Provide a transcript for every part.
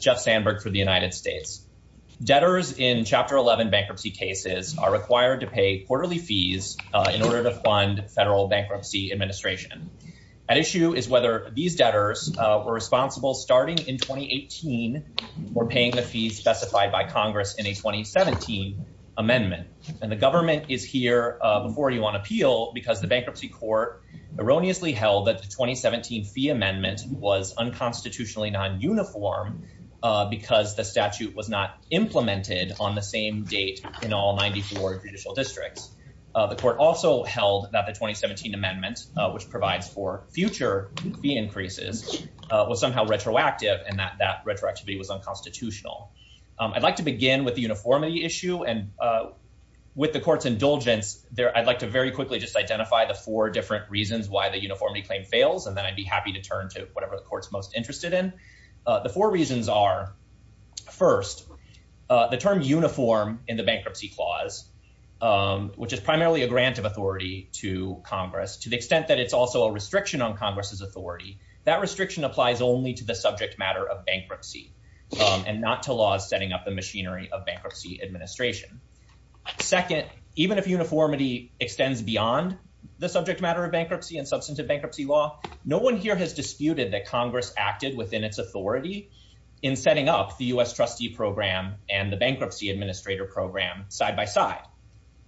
Jeff Sandberg for the United States. Debtors in Chapter 11 bankruptcy cases are required to pay quarterly fees in order to fund federal bankruptcy administration. At issue is whether these debtors were responsible starting in 2018 for paying the fees specified by Congress in a 2017 amendment. And the government is here before you on appeal because the bankruptcy court erroneously held that the 2017 fee amendment was unconstitutionally non-uniform because the statute was not implemented on the same date in all 94 judicial districts. The court also held that the 2017 amendment, which provides for future fee increases, was somehow retroactive and that that retroactivity was unconstitutional. I'd like to begin with the uniformity issue. And with the court's indulgence, I'd like to very quickly just identify the four different reasons why the uniformity claim fails, and then I'd be happy to turn to whatever the court's most interested in. The four reasons are, first, the term uniform in the bankruptcy clause, which is primarily a grant of authority to Congress to the extent that it's also a restriction on Congress's authority. That restriction applies only to the subject matter of bankruptcy and not to laws setting up the machinery of bankruptcy administration. Second, even if uniformity extends beyond the subject matter of bankruptcy and substantive bankruptcy law, no one here has disputed that Congress acted within its authority in setting up the U.S. trustee program and the bankruptcy administrator program side by side.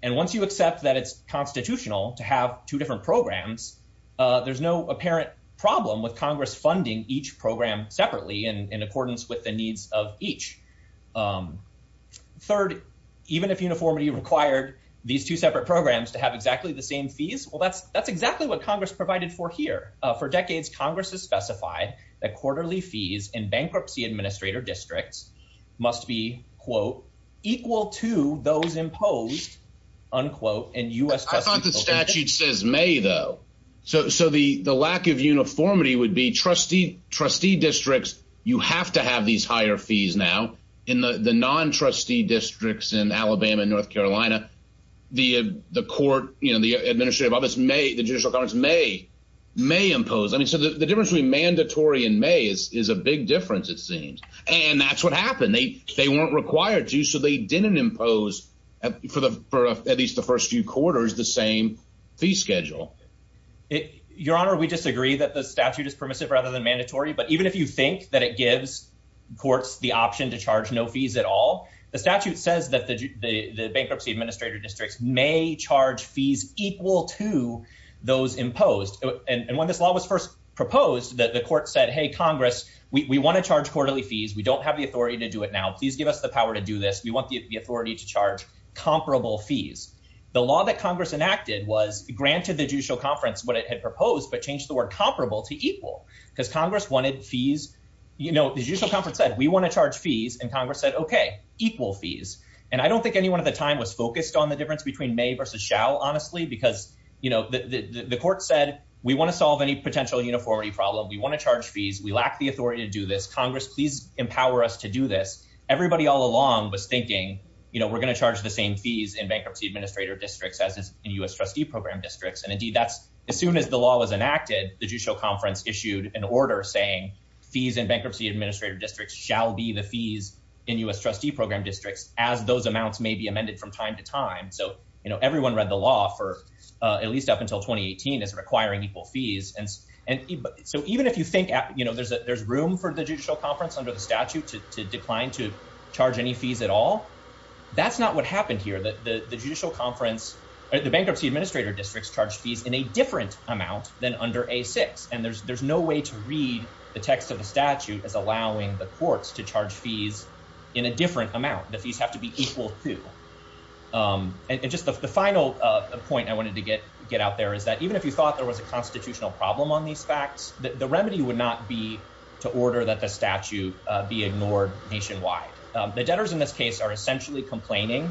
And once you accept that it's constitutional to have two different programs, there's no apparent problem with Congress funding each program separately in accordance with the needs of each. Third, even if uniformity required these two separate programs to have exactly the same fees, well, that's that's exactly what Congress provided for here. For decades, Congress has specified that quarterly fees in bankruptcy administrator districts must be, quote, equal to those imposed, unquote, in U.S. I thought the statute says may, though. So so the the lack of uniformity would be trustee trustee districts. You have to have these higher fees now. In the non-trustee districts in Alabama and North Carolina, the the court, you know, the administrative office may the judicial courts may may impose. I mean, so the difference between mandatory and may is is a big difference, it seems. And that's what happened. They they weren't required to. So they didn't impose for the for at least the first few quarters the same fee schedule. Your Honor, we disagree that the statute is permissive rather than mandatory. But even if you think that it gives courts the option to charge no fees at all, the statute says that the bankruptcy administrator districts may charge fees equal to those imposed. And when this law was first proposed, the court said, hey, Congress, we want to charge quarterly fees. We don't have the authority to do it now. Please give us the power to do this. We want the authority to charge comparable fees. The law that Congress enacted was granted the judicial conference what it had proposed, but changed the word comparable to equal because Congress wanted fees. You know, the judicial conference said we want to charge fees. And Congress said, OK, equal fees. And I don't think anyone at the time was focused on the difference between may versus shall, honestly, because, you know, the court said we want to solve any potential uniformity problem. We want to charge fees. We lack the authority to do this. Congress, please empower us to do this. Everybody all along was thinking, you know, we're going to charge the same fees in bankruptcy administrator districts as in U.S. trustee program districts. And indeed, that's as soon as the law was enacted, the judicial conference issued an order saying fees in bankruptcy administrator districts shall be the fees in U.S. trustee program districts as those amounts may be amended from time to time. So, you know, everyone read the law for at least up until 2018 is requiring equal fees. And so even if you think, you know, there's a there's room for the judicial conference under the statute to decline to charge any fees at all. That's not what happened here. The judicial conference, the bankruptcy administrator districts charged fees in a different amount than under a six. And there's there's no way to read the text of the statute as allowing the courts to charge fees in a different amount that these have to be equal to. And just the final point I wanted to get get out there is that even if you thought there was a constitutional problem on these facts, the remedy would not be to order that the statute be ignored nationwide. The debtors in this case are essentially complaining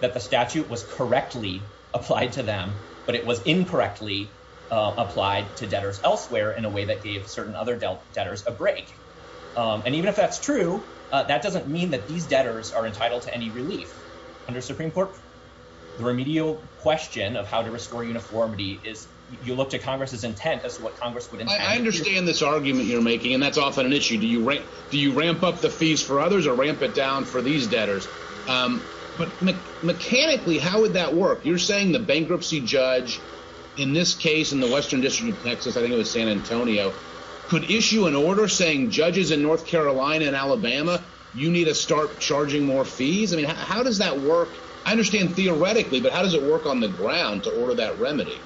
that the statute was correctly applied to them, but it was incorrectly applied to debtors elsewhere in a way that gave certain other debtors a break. And even if that's true, that doesn't mean that these debtors are entitled to any relief under Supreme Court. The remedial question of how to restore uniformity is you look to Congress's intent as to what Congress would. I understand this argument you're making, and that's often an excuse for others or ramp it down for these debtors. But mechanically, how would that work? You're saying the bankruptcy judge in this case, in the Western District of Texas, I think it was San Antonio, could issue an order saying judges in North Carolina and Alabama, you need to start charging more fees. I mean, how does that work? I understand theoretically, but how does it work on the ground to order that remedy?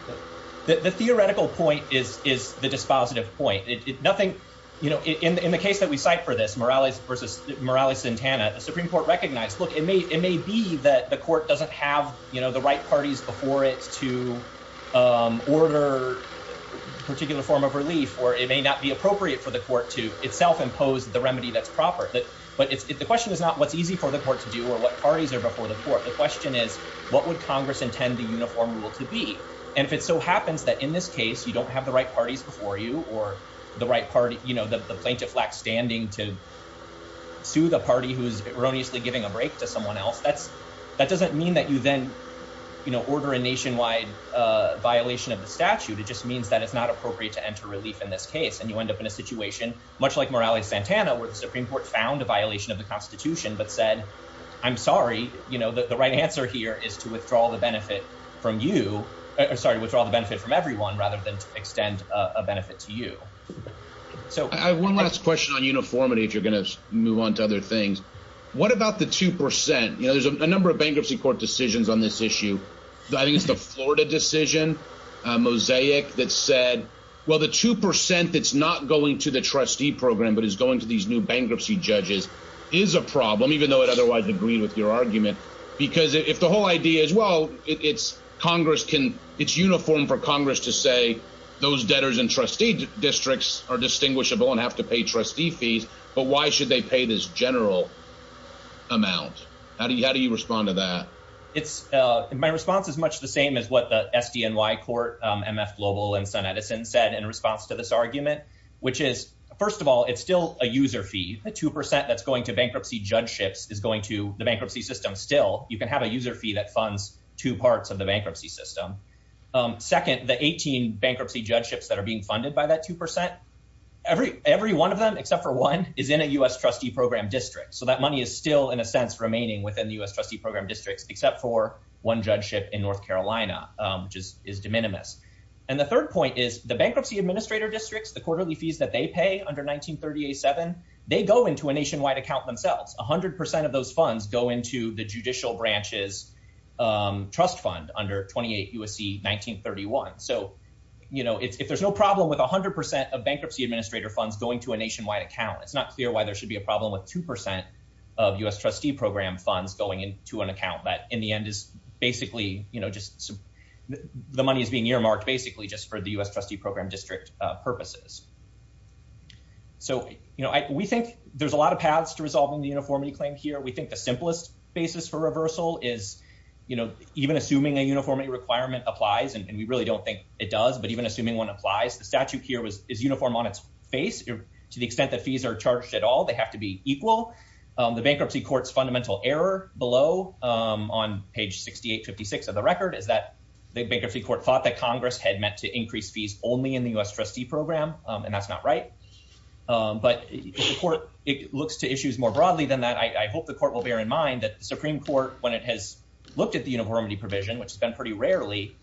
The theoretical point is is the dispositive point. Nothing in the case that we cite for this Morales versus Morales-Santana, the Supreme Court recognized, look, it may it may be that the court doesn't have the right parties before it to order a particular form of relief, or it may not be appropriate for the court to itself impose the remedy that's proper. But the question is not what's easy for the court to do or what parties are before the court. The question is, what would Congress intend the uniform rule to be? And if it so happens that in this case you don't have the right parties before you or the right party, you know, the plaintiff standing to sue the party who is erroneously giving a break to someone else, that's that doesn't mean that you then, you know, order a nationwide violation of the statute. It just means that it's not appropriate to enter relief in this case. And you end up in a situation much like Morales-Santana, where the Supreme Court found a violation of the Constitution but said, I'm sorry, you know, the right answer here is to withdraw the benefit from you. Sorry, withdraw the benefit from everyone rather than extend a benefit to you. So I have one last question on uniformity, if you're going to move on to other things. What about the 2 percent? You know, there's a number of bankruptcy court decisions on this issue. I think it's the Florida decision, Mosaic, that said, well, the 2 percent that's not going to the trustee program but is going to these new bankruptcy judges is a problem, even though it otherwise agreed with your argument, because if the whole idea is, well, it's Congress can it's uniform for Congress to say those debtors and trustee districts are distinguishable and have to pay trustee fees. But why should they pay this general amount? How do you how do you respond to that? It's my response is much the same as what the SDNY court, MF Global and Sen. Edison said in response to this argument, which is, first of all, it's still a user fee. The 2 percent that's going to bankruptcy judgeships is going to the bankruptcy system. Still, you can have a user fee that funds two parts of the bankruptcy system. Second, the 18 bankruptcy judgeships that are being funded by that 2 percent, every every one of them, except for one, is in a U.S. trustee program district. So that money is still, in a sense, remaining within the U.S. trustee program districts, except for one judgeship in North Carolina, which is de minimis. And the third point is the bankruptcy administrator districts, the quarterly fees that they pay under 1937, they go into a nationwide account themselves. One hundred percent of those funds go into the judicial branches trust fund under 28 U.S.C. 1931. So, you know, if there's no problem with one hundred percent of bankruptcy administrator funds going to a nationwide account, it's not clear why there should be a problem with 2 percent of U.S. trustee program funds going into an account that in the end is basically just the money is being earmarked basically just for the U.S. trustee program district purposes. So, you know, we think there's a lot of paths to resolving the uniformity claim here. We think the simplest basis for reversal is, you know, even assuming a uniformity requirement applies. And we really don't think it does. But even assuming one applies, the statute here is uniform on its face to the extent that fees are charged at all. They have to be equal. The bankruptcy court's fundamental error below on page 6856 of the record is that the bankruptcy court thought that Congress had meant to increase fees only in the U.S. trustee program. And that's not right. But the court looks to issues more broadly than that. I hope the court will bear in mind that the Supreme Court, when it has looked at the uniformity provision, which has been pretty rarely,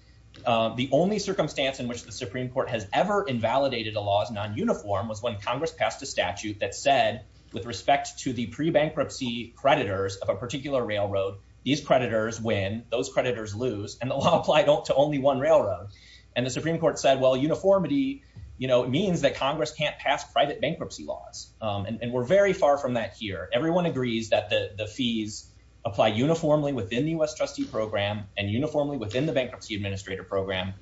the only circumstance in which the Supreme Court has ever invalidated a law as non-uniform was when Congress passed a statute that said with respect to the pre-bankruptcy creditors of a particular railroad, these creditors win, those creditors lose, and the law applied to only one railroad. And the Supreme Court said, well, uniformity means that Congress can't pass private bankruptcy laws. And we're very far from that here. Everyone agrees that the fees apply uniformly within the U.S. trustee program and uniformly within the bankruptcy administrator program.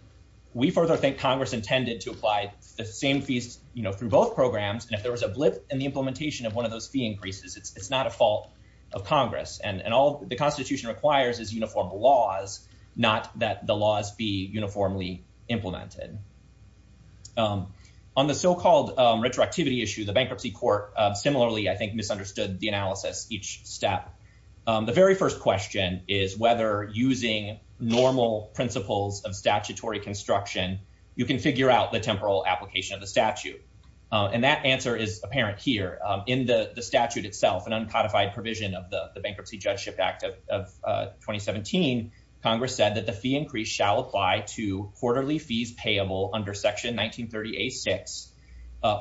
We further think Congress intended to apply the same fees through both programs. And if there was a blip in the implementation of one of those fee increases, it's not a fault of Congress. And all the Constitution requires is uniform laws, not that the laws be uniformly implemented. On the so-called retroactivity issue, the bankruptcy court similarly, I think, misunderstood the analysis each step. The very first question is whether using normal principles of statutory construction, you can figure out the temporal application of the statute. And that answer is apparent here in the statute itself, an uncodified provision of the Judgeship Act of 2017. Congress said that the fee increase shall apply to quarterly fees payable under Section 1938-6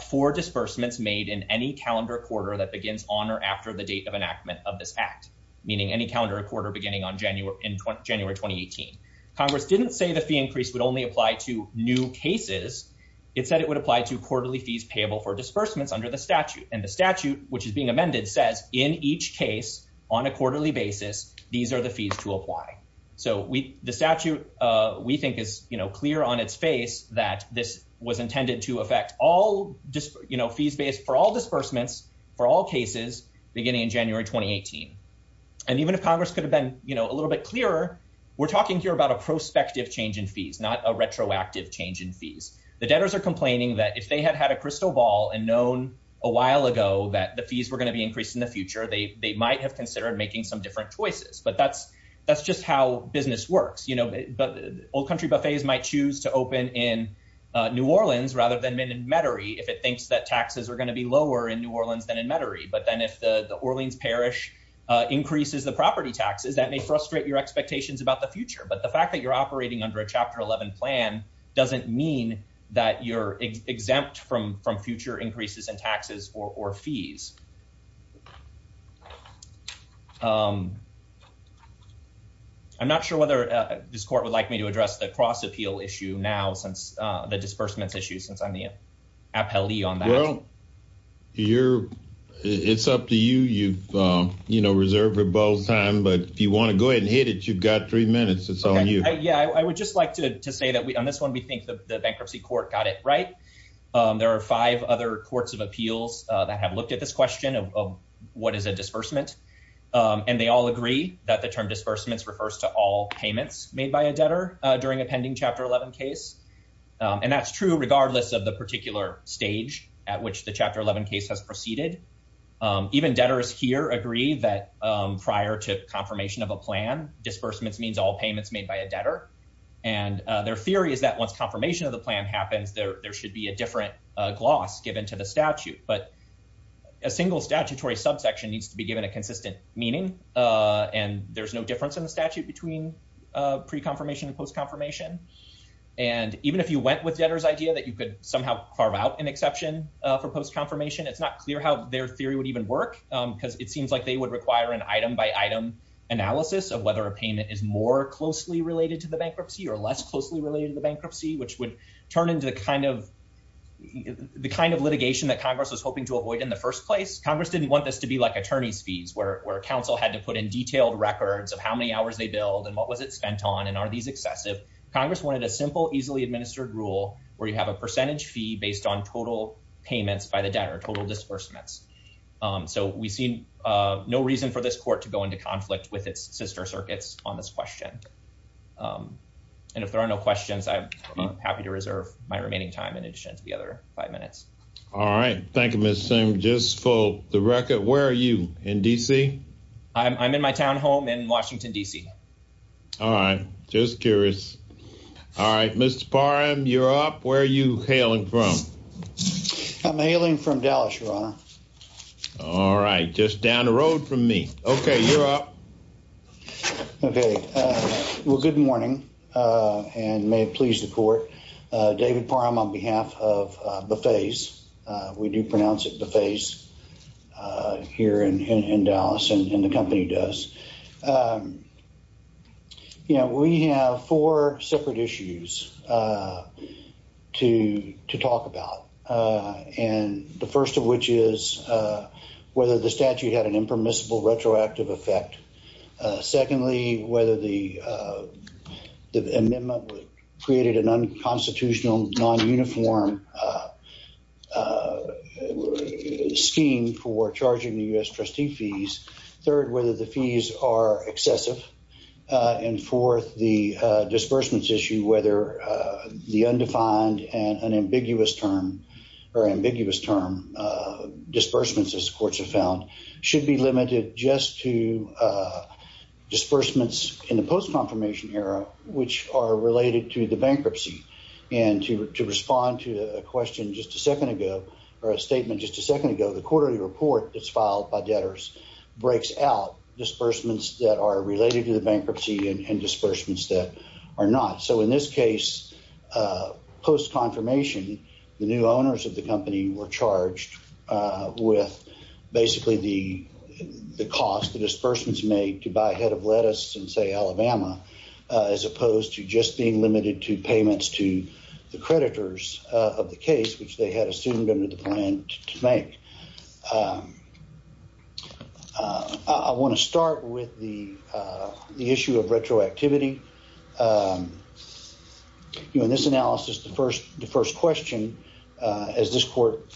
for disbursements made in any calendar quarter that begins on or after the date of enactment of this act, meaning any calendar quarter beginning on January in January 2018. Congress didn't say the fee increase would only apply to new cases. It said it would apply to quarterly fees payable for disbursements under the statute. And the statute, which is being amended, says in each case on a quarterly basis, these are the fees to apply. So the statute, we think, is clear on its face that this was intended to affect all fees based for all disbursements for all cases beginning in January 2018. And even if Congress could have been a little bit clearer, we're talking here about a prospective change in fees, not a retroactive change in fees. The debtors are complaining that if they had had a crystal ball and known a while ago that the fees were going to be increased in the future, they might have considered making some different choices. But that's that's just how business works. You know, but old country buffets might choose to open in New Orleans rather than in Metairie if it thinks that taxes are going to be lower in New Orleans than in Metairie. But then if the Orleans parish increases the property taxes, that may frustrate your expectations about the future. But the fact that you're operating under a Chapter 11 plan doesn't mean that you're exempt from from future increases in taxes or fees. I'm not sure whether this court would like me to address the cross appeal issue now, since the disbursements issue, since I'm the appellee on that. Well, you're it's up to you. You've reserved for both time. But if you want to go ahead and hit it, you've got three minutes. Yeah, I would just like to say that on this one, we think the bankruptcy court got it right. There are five other courts of appeals that have looked at this question of what is a disbursement. And they all agree that the term disbursements refers to all payments made by a debtor during a pending Chapter 11 case. And that's true regardless of the particular stage at which the Chapter 11 case has proceeded. Even debtors here agree that prior to confirmation of a plan, disbursements means all payments made by a debtor. And their theory is that once confirmation of the plan happens, there should be a different gloss given to the statute. But a single statutory subsection needs to be given a consistent meaning. And there's no difference in the statute between pre-confirmation and post-confirmation. And even if you went with debtors idea that you could somehow carve out an exception for post-confirmation, it's not clear how their theory would even work, because it seems like they would require an item by item analysis of whether a payment is more closely related to the bankruptcy or less closely related to the bankruptcy, which would turn into the kind of the kind of litigation that Congress was hoping to avoid in the first place. Congress didn't want this to be like attorney's fees where counsel had to put in detailed records of how many hours they billed and what was it spent on and are these excessive. Congress wanted a simple, easily administered rule where you have a percentage fee based on total payments by the debtor, total disbursements. So we see no reason for this court to go into conflict with its sister circuits on this question. And if there are no questions, I'm happy to reserve my remaining time in addition to the other five minutes. All right. Thank you, Mr. Sim. Just for the record, where are you in D.C.? I'm in my town home in Washington, D.C. All right. Just curious. All right, Mr. Parham, you're up. Where are you hailing from? I'm hailing from Dallas, Your Honor. All right. Just down the road from me. OK, you're up. OK, well, good morning and may it please the court. David Parham on behalf of Buffet's, we do pronounce it Buffet's here in Dallas and the company does. You know, we have four separate issues to to talk about, and the first of which is whether the statute had an impermissible retroactive effect. Secondly, whether the amendment created an unconstitutional, non-uniform scheme for charging the U.S. trustee fees. Third, whether the fees are excessive. And fourth, the disbursements issue, whether the undefined and an ambiguous term or disbursements, as courts have found, should be limited just to disbursements in the post-confirmation era, which are related to the bankruptcy. And to respond to a question just a second ago or a statement just a second ago, the quarterly report that's filed by debtors breaks out disbursements that are related to the bankruptcy and disbursements that are not. So in this case, post-confirmation, the new owners of the company were charged with basically the cost the disbursements made to buy a head of lettuce in, say, Alabama, as opposed to just being limited to payments to the creditors of the case, which they had assumed under the plan to make. I want to start with the issue of retroactivity. In this analysis, the first question, as this court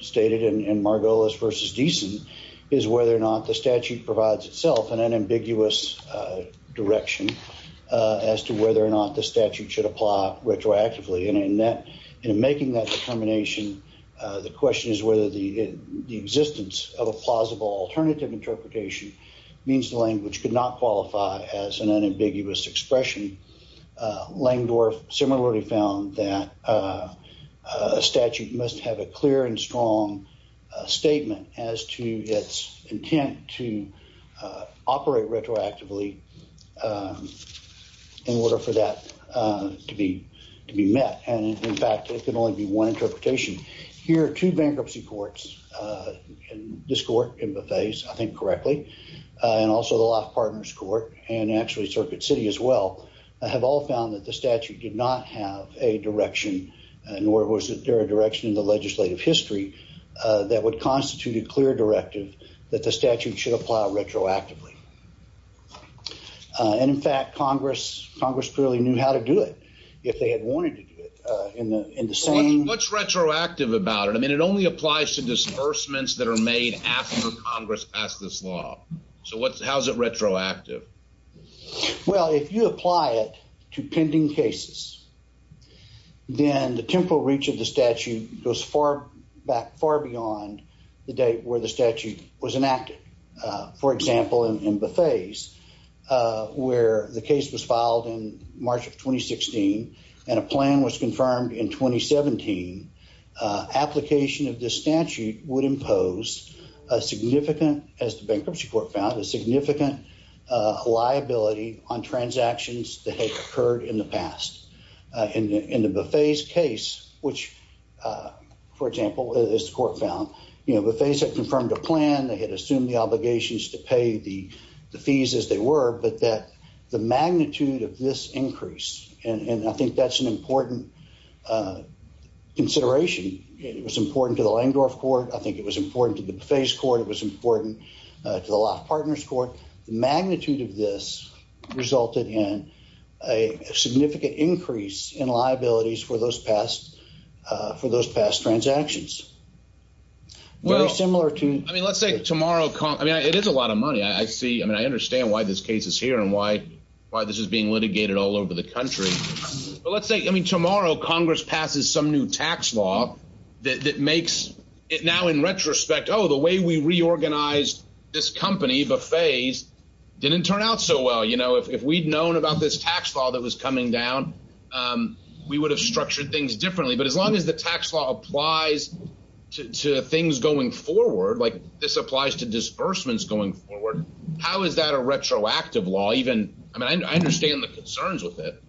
stated in Margolis versus Deason, is whether or not the statute provides itself an unambiguous direction as to whether or not the statute should apply retroactively. And in making that determination, the question is whether the existence of a plausible alternative interpretation means the language could not qualify as an unambiguous expression. Langdorf similarly found that a statute must have a clear and strong statement as to its intent to operate retroactively in order for that to be to be and in fact, it can only be one interpretation. Here are two bankruptcy courts in this court, in Buffet's, I think correctly, and also the Loft Partners Court and actually Circuit City as well, have all found that the statute did not have a direction and nor was there a direction in the legislative history that would constitute a clear directive that the statute should apply retroactively. And in fact, Congress clearly knew how to do it if they had wanted to in the in the same. What's retroactive about it? I mean, it only applies to disbursements that are made after Congress passed this law. So what's how's it retroactive? Well, if you apply it to pending cases, then the temporal reach of the statute goes far back, far beyond the date where the statute was enacted, for example, in Buffet's, where the case was filed in March of 2016 and a plan was confirmed in 2017. Application of this statute would impose a significant, as the bankruptcy court found, a significant liability on transactions that had occurred in the past. In the Buffet's case, which, for example, this court found, you know, Buffet's had the fees as they were, but that the magnitude of this increase, and I think that's an important consideration, it was important to the Langdorf court. I think it was important to the Buffet's court. It was important to the Law Partners court. The magnitude of this resulted in a significant increase in liabilities for those past for those past transactions. Very similar to. I mean, let's say tomorrow. I mean, it is a lot of money. I see. I mean, I understand why this case is here and why why this is being litigated all over the country. But let's say, I mean, tomorrow Congress passes some new tax law that makes it now in retrospect, oh, the way we reorganized this company, Buffet's, didn't turn out so well. You know, if we'd known about this tax law that was coming down, we would have structured things differently. But as long as the tax law applies to things going forward, like this applies to disbursements going forward, how is that a retroactive law? Even I mean, I understand the concerns with it.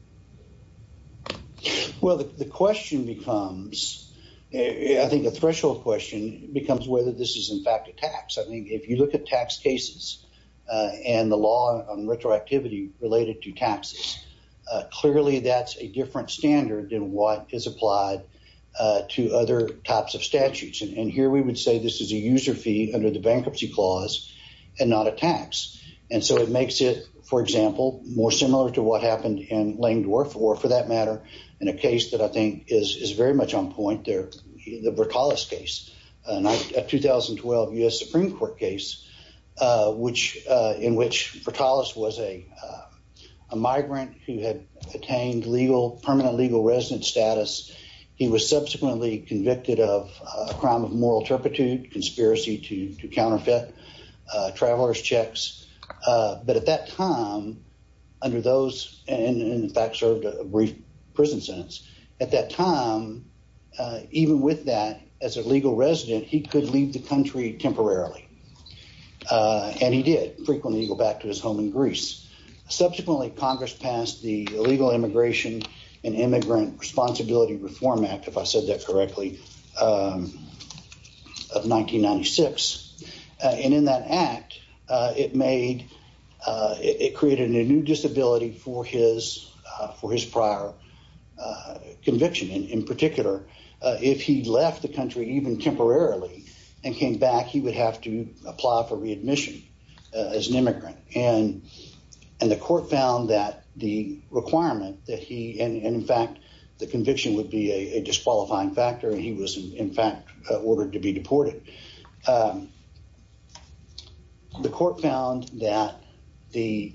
Well, the question becomes, I think a threshold question becomes whether this is in fact a tax. I mean, if you look at tax cases and the law on retroactivity related to taxes, clearly that's a different standard than what is applied to other types of and not a tax. And so it makes it, for example, more similar to what happened in Lame Dwarf War, for that matter, in a case that I think is very much on point there, the Burtalis case, a 2012 U.S. Supreme Court case, which in which Burtalis was a migrant who had attained legal permanent legal residence status. He was subsequently convicted of a crime of moral turpitude, conspiracy to counter traveler's checks. But at that time, under those and in fact served a brief prison sentence at that time, even with that as a legal resident, he could leave the country temporarily. And he did frequently go back to his home in Greece. Subsequently, Congress passed the Illegal Immigration and Immigrant Responsibility Reform Act, if I said that correctly, of 1996. And in that act, it made it created a new disability for his for his prior conviction. And in particular, if he left the country even temporarily and came back, he would have to apply for readmission as an immigrant. And and the court found that the requirement that he and in fact, the conviction would be a disqualifying factor. And he was, in fact, ordered to be deported. The court found that the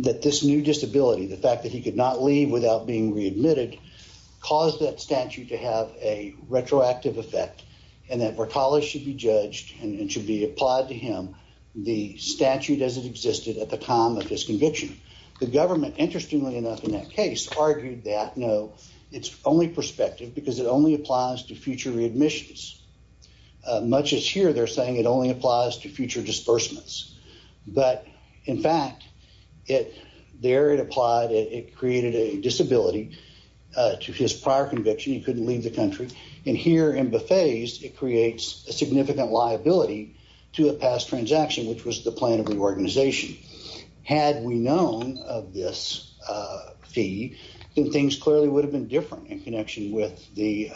that this new disability, the fact that he could not leave without being readmitted, caused that statute to have a retroactive effect and that Burtalis should be judged and should be applied to him the statute as it existed at the time of this conviction. The government, interestingly enough, in that case, argued that no, it's only prospective because it only applies to future readmissions. Much as here, they're saying it only applies to future disbursements. But in fact, it there it applied. It created a disability to his prior conviction. He couldn't leave the country. And here in Buffet's, it creates a significant liability to a past transaction, which was the plan of the organization. Had we known of this fee, then things clearly would have been different in connection with the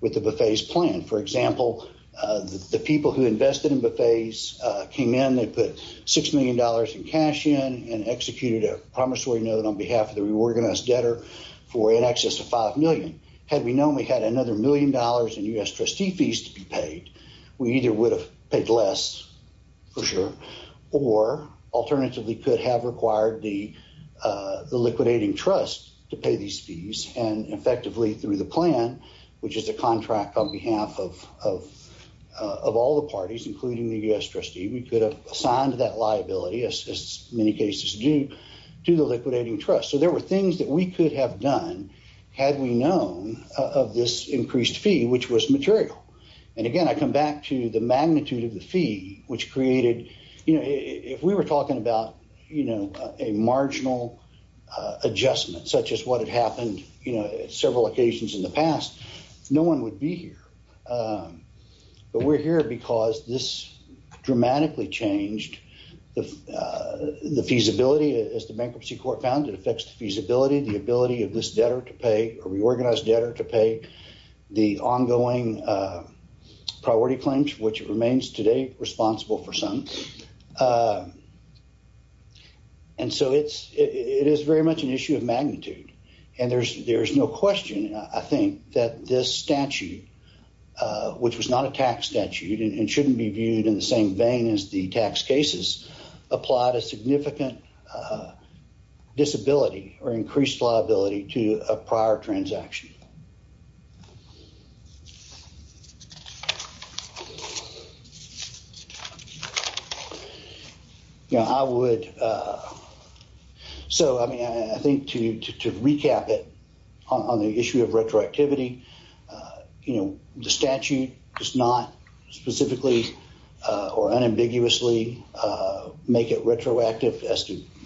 with the Buffet's plan. For example, the people who invested in Buffet's came in, they put six million dollars in cash in and executed a promissory note on behalf of the reorganized debtor for in excess of five million. Had we known we had another million dollars in U.S. trustee fees to be paid, we either would have paid less for sure or alternatively could have required the the liquidating trust to pay these fees and effectively through the plan, which is a contract on behalf of of of all the parties, including the U.S. trustee. We could have signed that liability as many cases due to the liquidating trust. So there were things that we could have done had we known of this increased fee, which was material. And again, I come back to the magnitude of the fee, which created if we were talking about, you know, a marginal adjustment such as what had happened, you know, several occasions in the past, no one would be here. But we're here because this dramatically changed the the feasibility as the bankruptcy court found it affects the feasibility, the ability of this debtor to pay a reorganized debtor to pay the ongoing priority claims, which remains today responsible for some. And so it's it is very much an issue of magnitude and there's there is no question, I think, that this statute, which was not a tax statute and shouldn't be viewed in the same vein as the tax cases, applied a significant disability or increased liability to a prior transaction. You know, I would. So, I mean, I think to recap it on the issue of retroactivity, you know, the statute does not specifically or unambiguously make it retroactive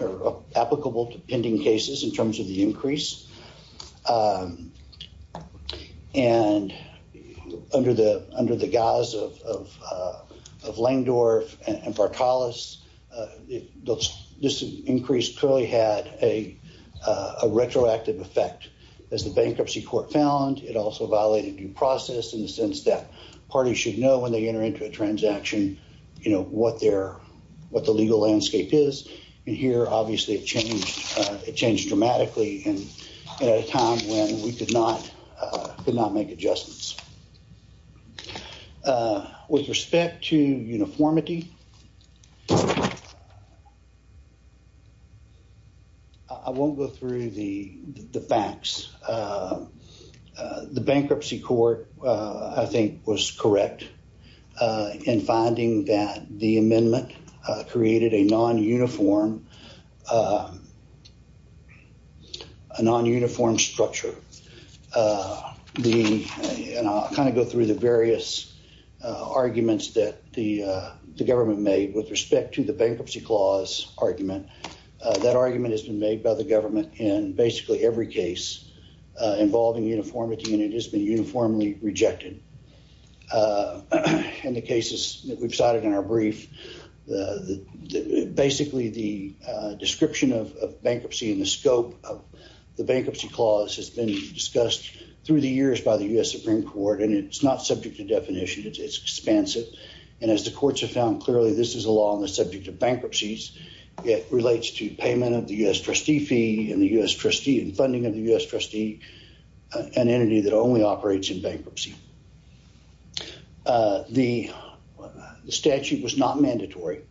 or applicable to pending cases in terms of the increase. And under the under the guise of Langdorf and Vartalos, this increase clearly had a retroactive effect as the bankruptcy court found. It also violated due process in the sense that parties should know when they enter into a transaction, you know what their what the legal landscape is. And here, obviously, it changed. It changed dramatically and at a time when we could not could not make adjustments. With respect to uniformity. I won't go through the facts. The bankruptcy court, I think, was correct in finding that the amendment created a non-uniform a non-uniform structure. The kind of go through the various arguments that the government made with respect to the bankruptcy clause argument. That argument has been made by the government in basically every case involving uniformity and it has been uniformly rejected. In the cases that we've cited in our brief, the basically the description of bankruptcy in the scope of the bankruptcy clause has been discussed through the years by the U.S. Supreme Court, and it's not subject to definition. It's expansive. And as the courts have found clearly, this is a law on the subject of bankruptcies. It relates to payment of the U.S. trustee fee and the U.S. trustee and funding of the U.S. trustee, an entity that only operates in bankruptcy. The statute was not mandatory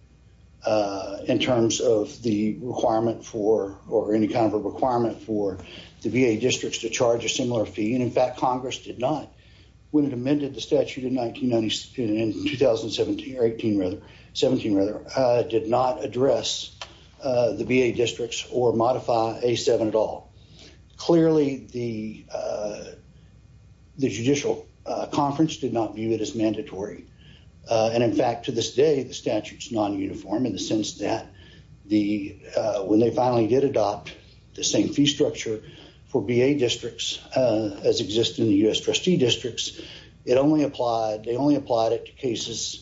in terms of the requirement for or any kind of a requirement for the VA districts to charge a similar fee. And in fact, Congress did not, when it amended the statute in 1997, in 2017 or 18 rather, 17 rather, did not address the VA districts or modify A7 at all. Clearly, the the judicial conference did not view it as mandatory. And in fact, to this day, the statute is non-uniform in the sense that the when they finally did adopt the same fee structure for VA districts as exist in the U.S. trustee districts, it only applied, they only applied it to cases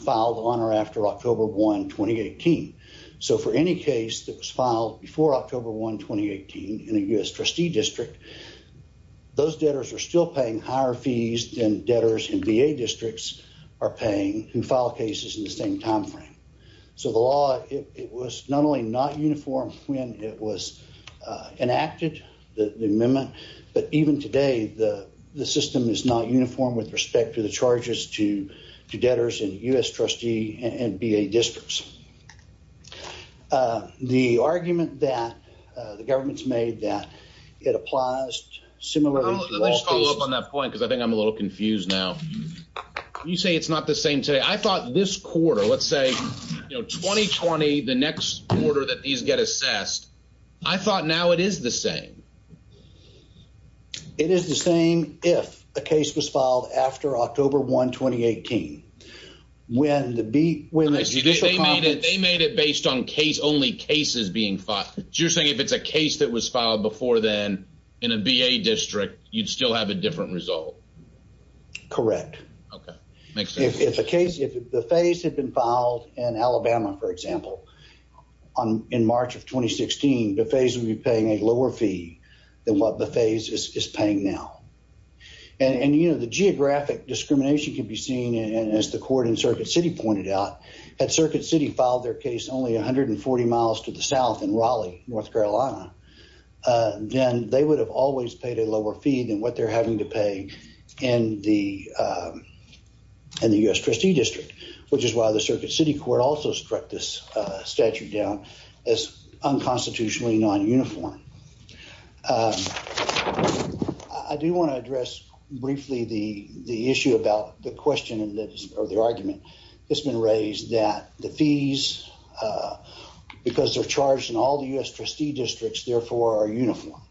filed on or after October 1, 2018. So for any case that was filed before October 1, 2018 in a U.S. trustee district, those debtors are still paying higher fees than debtors in VA districts are paying who file cases in the same time frame. So the law, it was not only not uniform when it was enacted, the amendment, but even today, the system is not uniform with respect to the charges to debtors in U.S. trustee and VA districts. The argument that the government's made that it applies similarly to legislature. I'll follow up on that point because I think I'm a little confused now. You say it's not the same today. I thought this quarter, let's say, you know, 2020, the next quarter that these get assessed, I thought now it is the same. It is the same if a case was filed after October 1, 2018. They made it based on case only cases being filed. So you're saying if it's a case that was filed before then in a VA district, you'd still have a different result? Correct. Okay. If the phase had been filed in Alabama, for example, in March of 2016, the phase would be paying a lower fee than what the phase is paying now. And, you know, the geographic discrimination can be seen in, as the court in Circuit City pointed out, that Circuit City filed their case only 140 miles to the South in Raleigh, North Carolina, then they would have always paid a lower fee than what they're having to pay in the U.S. trustee district, which is why the Circuit City Court also struck this statute down as unconstitutionally non-uniform. I do want to address briefly the issue about the question or the argument that's been raised that the fees, because they're charged in all the U.S. trustee districts, therefore are uniform.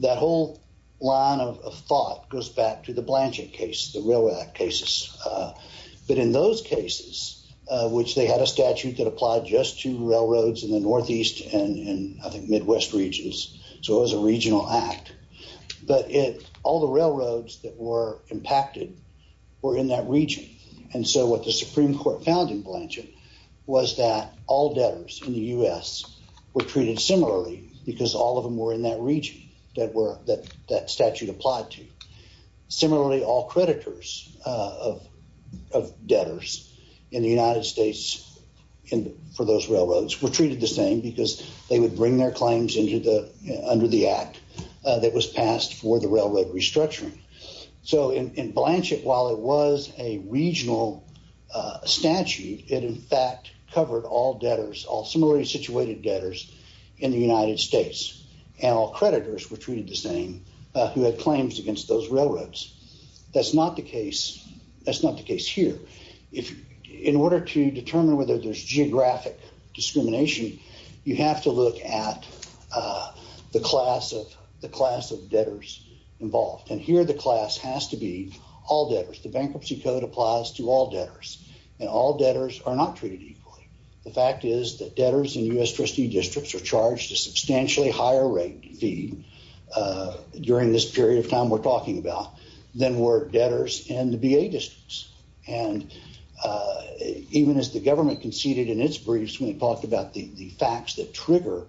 That whole line of thought goes back to the Blanchett case, the Railroad Act cases, but in those cases, which they had a statute that applied just to Midwest regions, so it was a regional act, but all the railroads that were impacted were in that region. And so what the Supreme Court found in Blanchett was that all debtors in the U.S. were treated similarly because all of them were in that region that statute applied to. Similarly, all creditors of debtors in the United States for those railroads were treated the same because they would bring their claims under the act that was passed for the railroad restructuring. So in Blanchett, while it was a regional statute, it in fact covered all debtors, all similarly situated debtors in the United States, and all creditors were treated the same who had claims against those railroads. That's not the case here. In order to determine whether there's geographic discrimination, you have to look at the class of debtors involved, and here the class has to be all debtors, the bankruptcy code applies to all debtors, and all debtors are not treated equally. The fact is that debtors in U.S. trustee districts are charged a substantially higher rate fee during this period of time we're talking about than were debtors in the B.A. trustee districts, and even as the government conceded in its briefs when it talked about the facts that trigger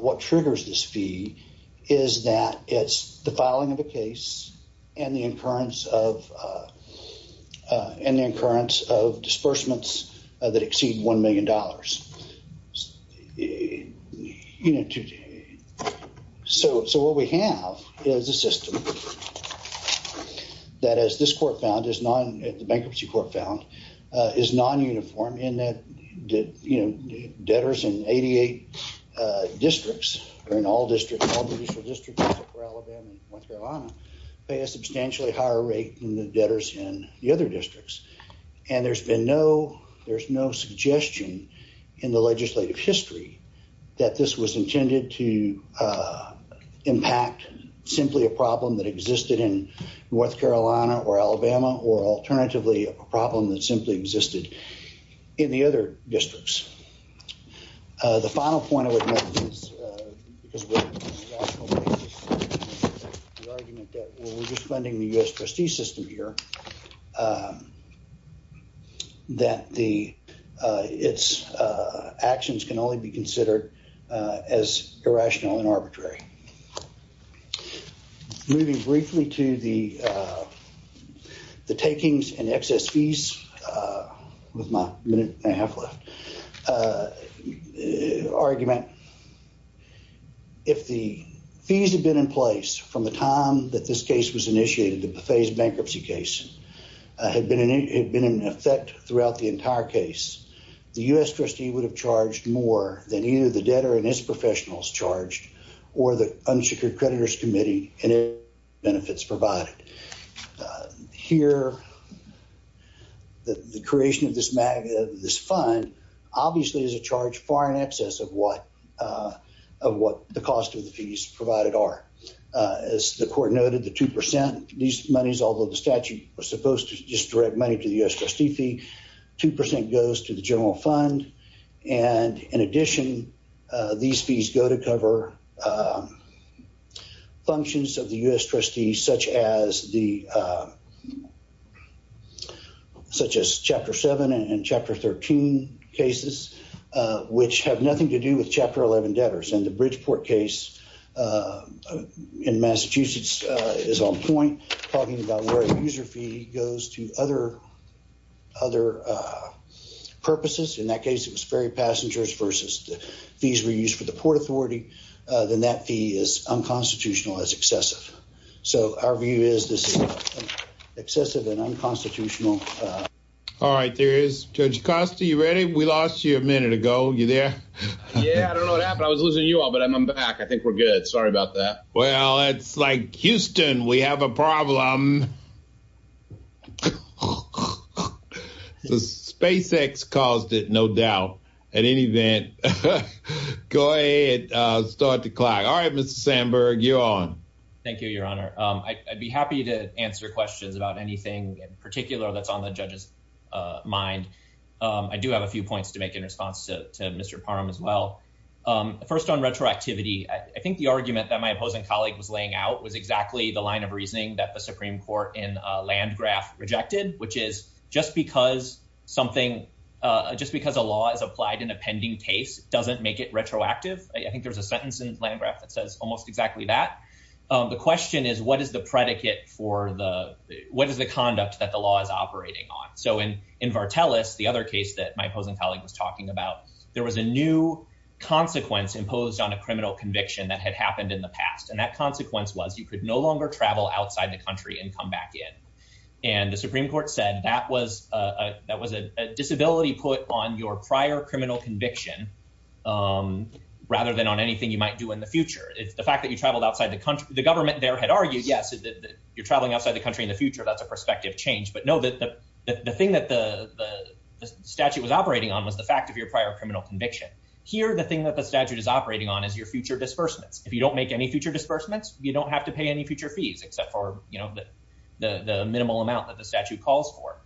what triggers this fee is that it's the filing of a case and the incurrence of disbursements that exceed $1 million. So what we have is a system that as this court found, the bankruptcy court found, is non-uniform in that debtors in 88 districts, or in all districts, pay a substantially higher rate than the debtors in the other districts, and there's been no, there's no suggestion in the legislative history that this was intended to impact simply a problem that existed in North Carolina or Alabama or alternatively a problem that simply existed in the other districts. The final point I would make is, because we're just funding the U.S. trustee system here, that the, its actions can only be considered as irrational and arbitrary. Moving briefly to the takings and excess fees, with my minute and a half left, argument, if the fees had been in place from the time that this case was raised, bankruptcy case, had been in effect throughout the entire case, the U.S. trustee would have charged more than either the debtor and his professionals charged or the unsecured creditors committee and its benefits provided. Here the creation of this fund obviously is a charge far in excess of what, of what the cost of the fees provided are. As the court noted, the 2%, these monies, although the statute was supposed to just direct money to the U.S. trustee fee, 2% goes to the general fund, and in addition, these fees go to cover functions of the U.S. trustee, such as the, such as Chapter 7 and Chapter 13 cases, which have nothing to do with the U.S. trustee fee. In Massachusetts, it is on point, talking about where the user fee goes to other purposes. In that case, it was ferry passengers versus the fees we used for the Port Authority. Then that fee is unconstitutional as excessive. So our view is this is excessive and unconstitutional. All right. There is, Judge Acosta, you ready? We lost you a minute ago. You there? Yeah. I don't know what happened. I was losing you all, but I'm back. I think we're good. Sorry about that. Well, it's like Houston. We have a problem. The SpaceX caused it, no doubt, at any event. Go ahead. Start the clock. All right, Mr. Sandberg, you're on. Thank you, Your Honor. I'd be happy to answer questions about anything in particular that's on the judge's mind. I do have a few points to make in response to Mr. Parham as well. First on retroactivity, I think the argument that my opposing colleague was laying out was exactly the line of reasoning that the Supreme Court in Landgraf rejected, which is just because something, just because a law is applied in a pending case doesn't make it retroactive. I think there's a sentence in Landgraf that says almost exactly that. The question is what is the predicate for the, what is the conduct that the law is operating on? So in Vartelis, the other case that my opposing colleague was talking about, there was a new consequence imposed on a criminal conviction that had happened in the past. And that consequence was you could no longer travel outside the country and come back in. And the Supreme Court said that was a disability put on your prior criminal conviction rather than on anything you might do in the future. If the fact that you traveled outside the country, the government there had argued, yes, you're traveling outside the country in the future, that's a prospective change. But no, the thing that the statute was operating on was the fact of your prior criminal conviction. Here, the thing that the statute is operating on is your future disbursements. If you don't make any future disbursements, you don't have to pay any future fees except for the minimal amount that the statute calls for.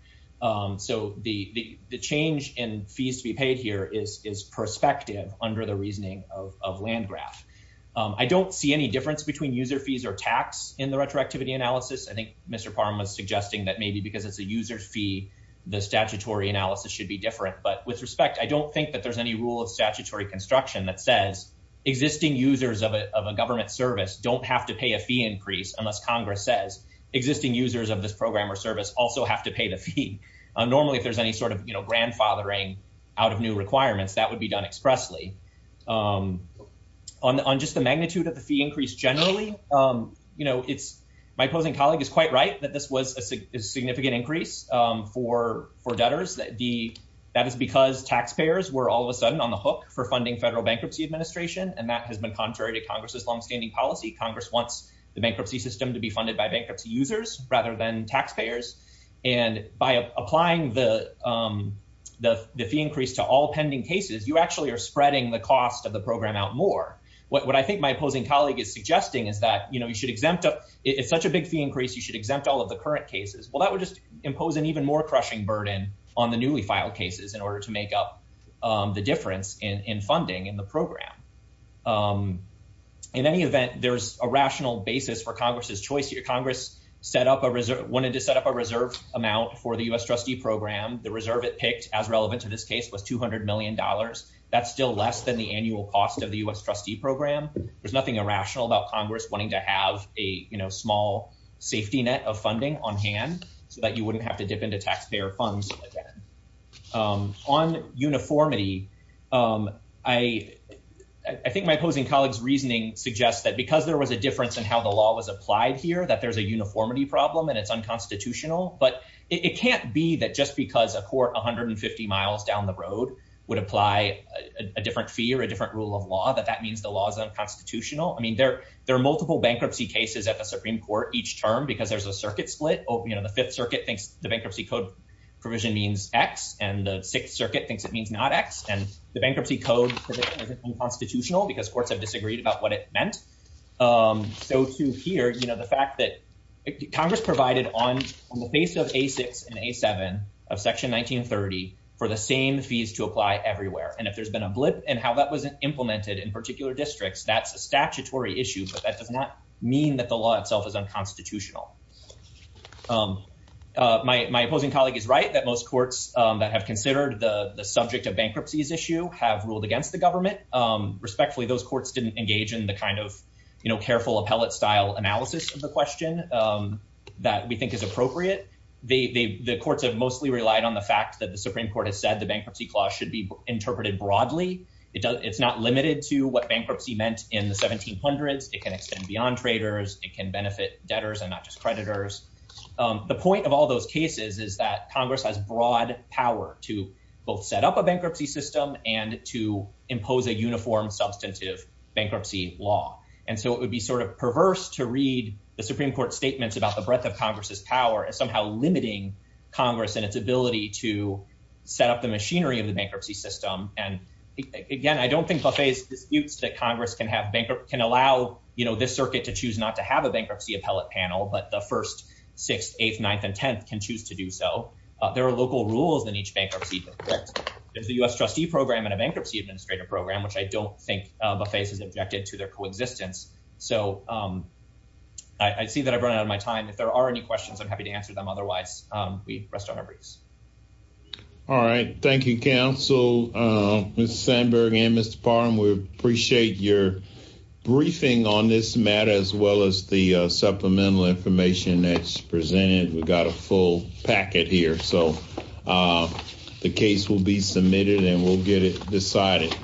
So the change in fees to be paid here is prospective under the reasoning of Landgraf. I don't see any difference between user fees or tax in the retroactivity analysis. I think Mr. Parham was suggesting that maybe because it's a user fee, the statutory analysis should be different. But with respect, I don't think that there's any rule of statutory construction that says existing users of a government service don't have to pay a fee increase unless Congress says existing users of this program or service also have to pay the fee. Normally, if there's any sort of grandfathering out of new requirements, that would be done expressly. On just the magnitude of the fee increase generally, my opposing colleague is quite right that this was a significant increase for debtors. That is because taxpayers were all of a sudden on the hook for funding federal bankruptcy administration. And that has been contrary to Congress's longstanding policy. Congress wants the bankruptcy system to be funded by bankruptcy users rather than taxpayers. And by applying the fee increase to all pending cases, you actually are spreading the cost of the program out more. What I think my opposing colleague is suggesting is that, you know, you should exempt if it's such a big fee increase, you should exempt all of the current cases. Well, that would just impose an even more crushing burden on the newly filed cases in order to make up the difference in funding in the program. In any event, there's a rational basis for Congress's choice here. Congress set up a reserve, wanted to set up a reserve amount for the U.S. trustee program. The reserve it picked as relevant to this case was 200 million dollars. That's still less than the annual cost of the U.S. trustee program. There's nothing irrational about Congress wanting to have a small safety net of funding on hand so that you wouldn't have to dip into taxpayer funds. On uniformity, I think my opposing colleague's reasoning suggests that because there was a difference in how the law was applied here, that there's a uniformity problem and it's unconstitutional. But it can't be that just because a court 150 miles down the road would apply a different fee or a different rule of law, that that means the law is unconstitutional. I mean, there are multiple bankruptcy cases at the Supreme Court each term because there's a circuit split. The Fifth Circuit thinks the bankruptcy code provision means X and the Sixth Circuit thinks it means not X. And the bankruptcy code is unconstitutional because courts have disagreed about what it meant. So to hear the fact that Congress provided on the face of A6 and A7 of Section 1930 for the same fees to apply everywhere. And if there's been a blip in how that was implemented in particular districts, that's a unconstitutional. My opposing colleague is right that most courts that have considered the subject of bankruptcies issue have ruled against the government. Respectfully, those courts didn't engage in the kind of careful appellate style analysis of the question that we think is appropriate. The courts have mostly relied on the fact that the Supreme Court has said the bankruptcy clause should be interpreted broadly. It's not limited to what bankruptcy meant in the 1700s. It can extend beyond traders. It can benefit debtors and not just creditors. The point of all those cases is that Congress has broad power to both set up a bankruptcy system and to impose a uniform substantive bankruptcy law. And so it would be sort of perverse to read the Supreme Court statements about the breadth of Congress's power as somehow limiting Congress and its ability to set up the machinery of the bankruptcy system. And again, I don't think Buffet disputes that Congress can have a bankruptcy appellate panel, but the 1st, 6th, 8th, 9th and 10th can choose to do so. There are local rules in each bankruptcy. There's the U.S. trustee program and a bankruptcy administrator program, which I don't think Buffet has objected to their coexistence. So I see that I've run out of my time. If there are any questions, I'm happy to answer them. Otherwise, we rest on our briefs. All right. Thank you, counsel. Mr. Sandberg and Mr. Parham, we appreciate your briefing on this matter as well as the supplemental information that's presented. We've got a full packet here, so the case will be submitted and we'll get it decided.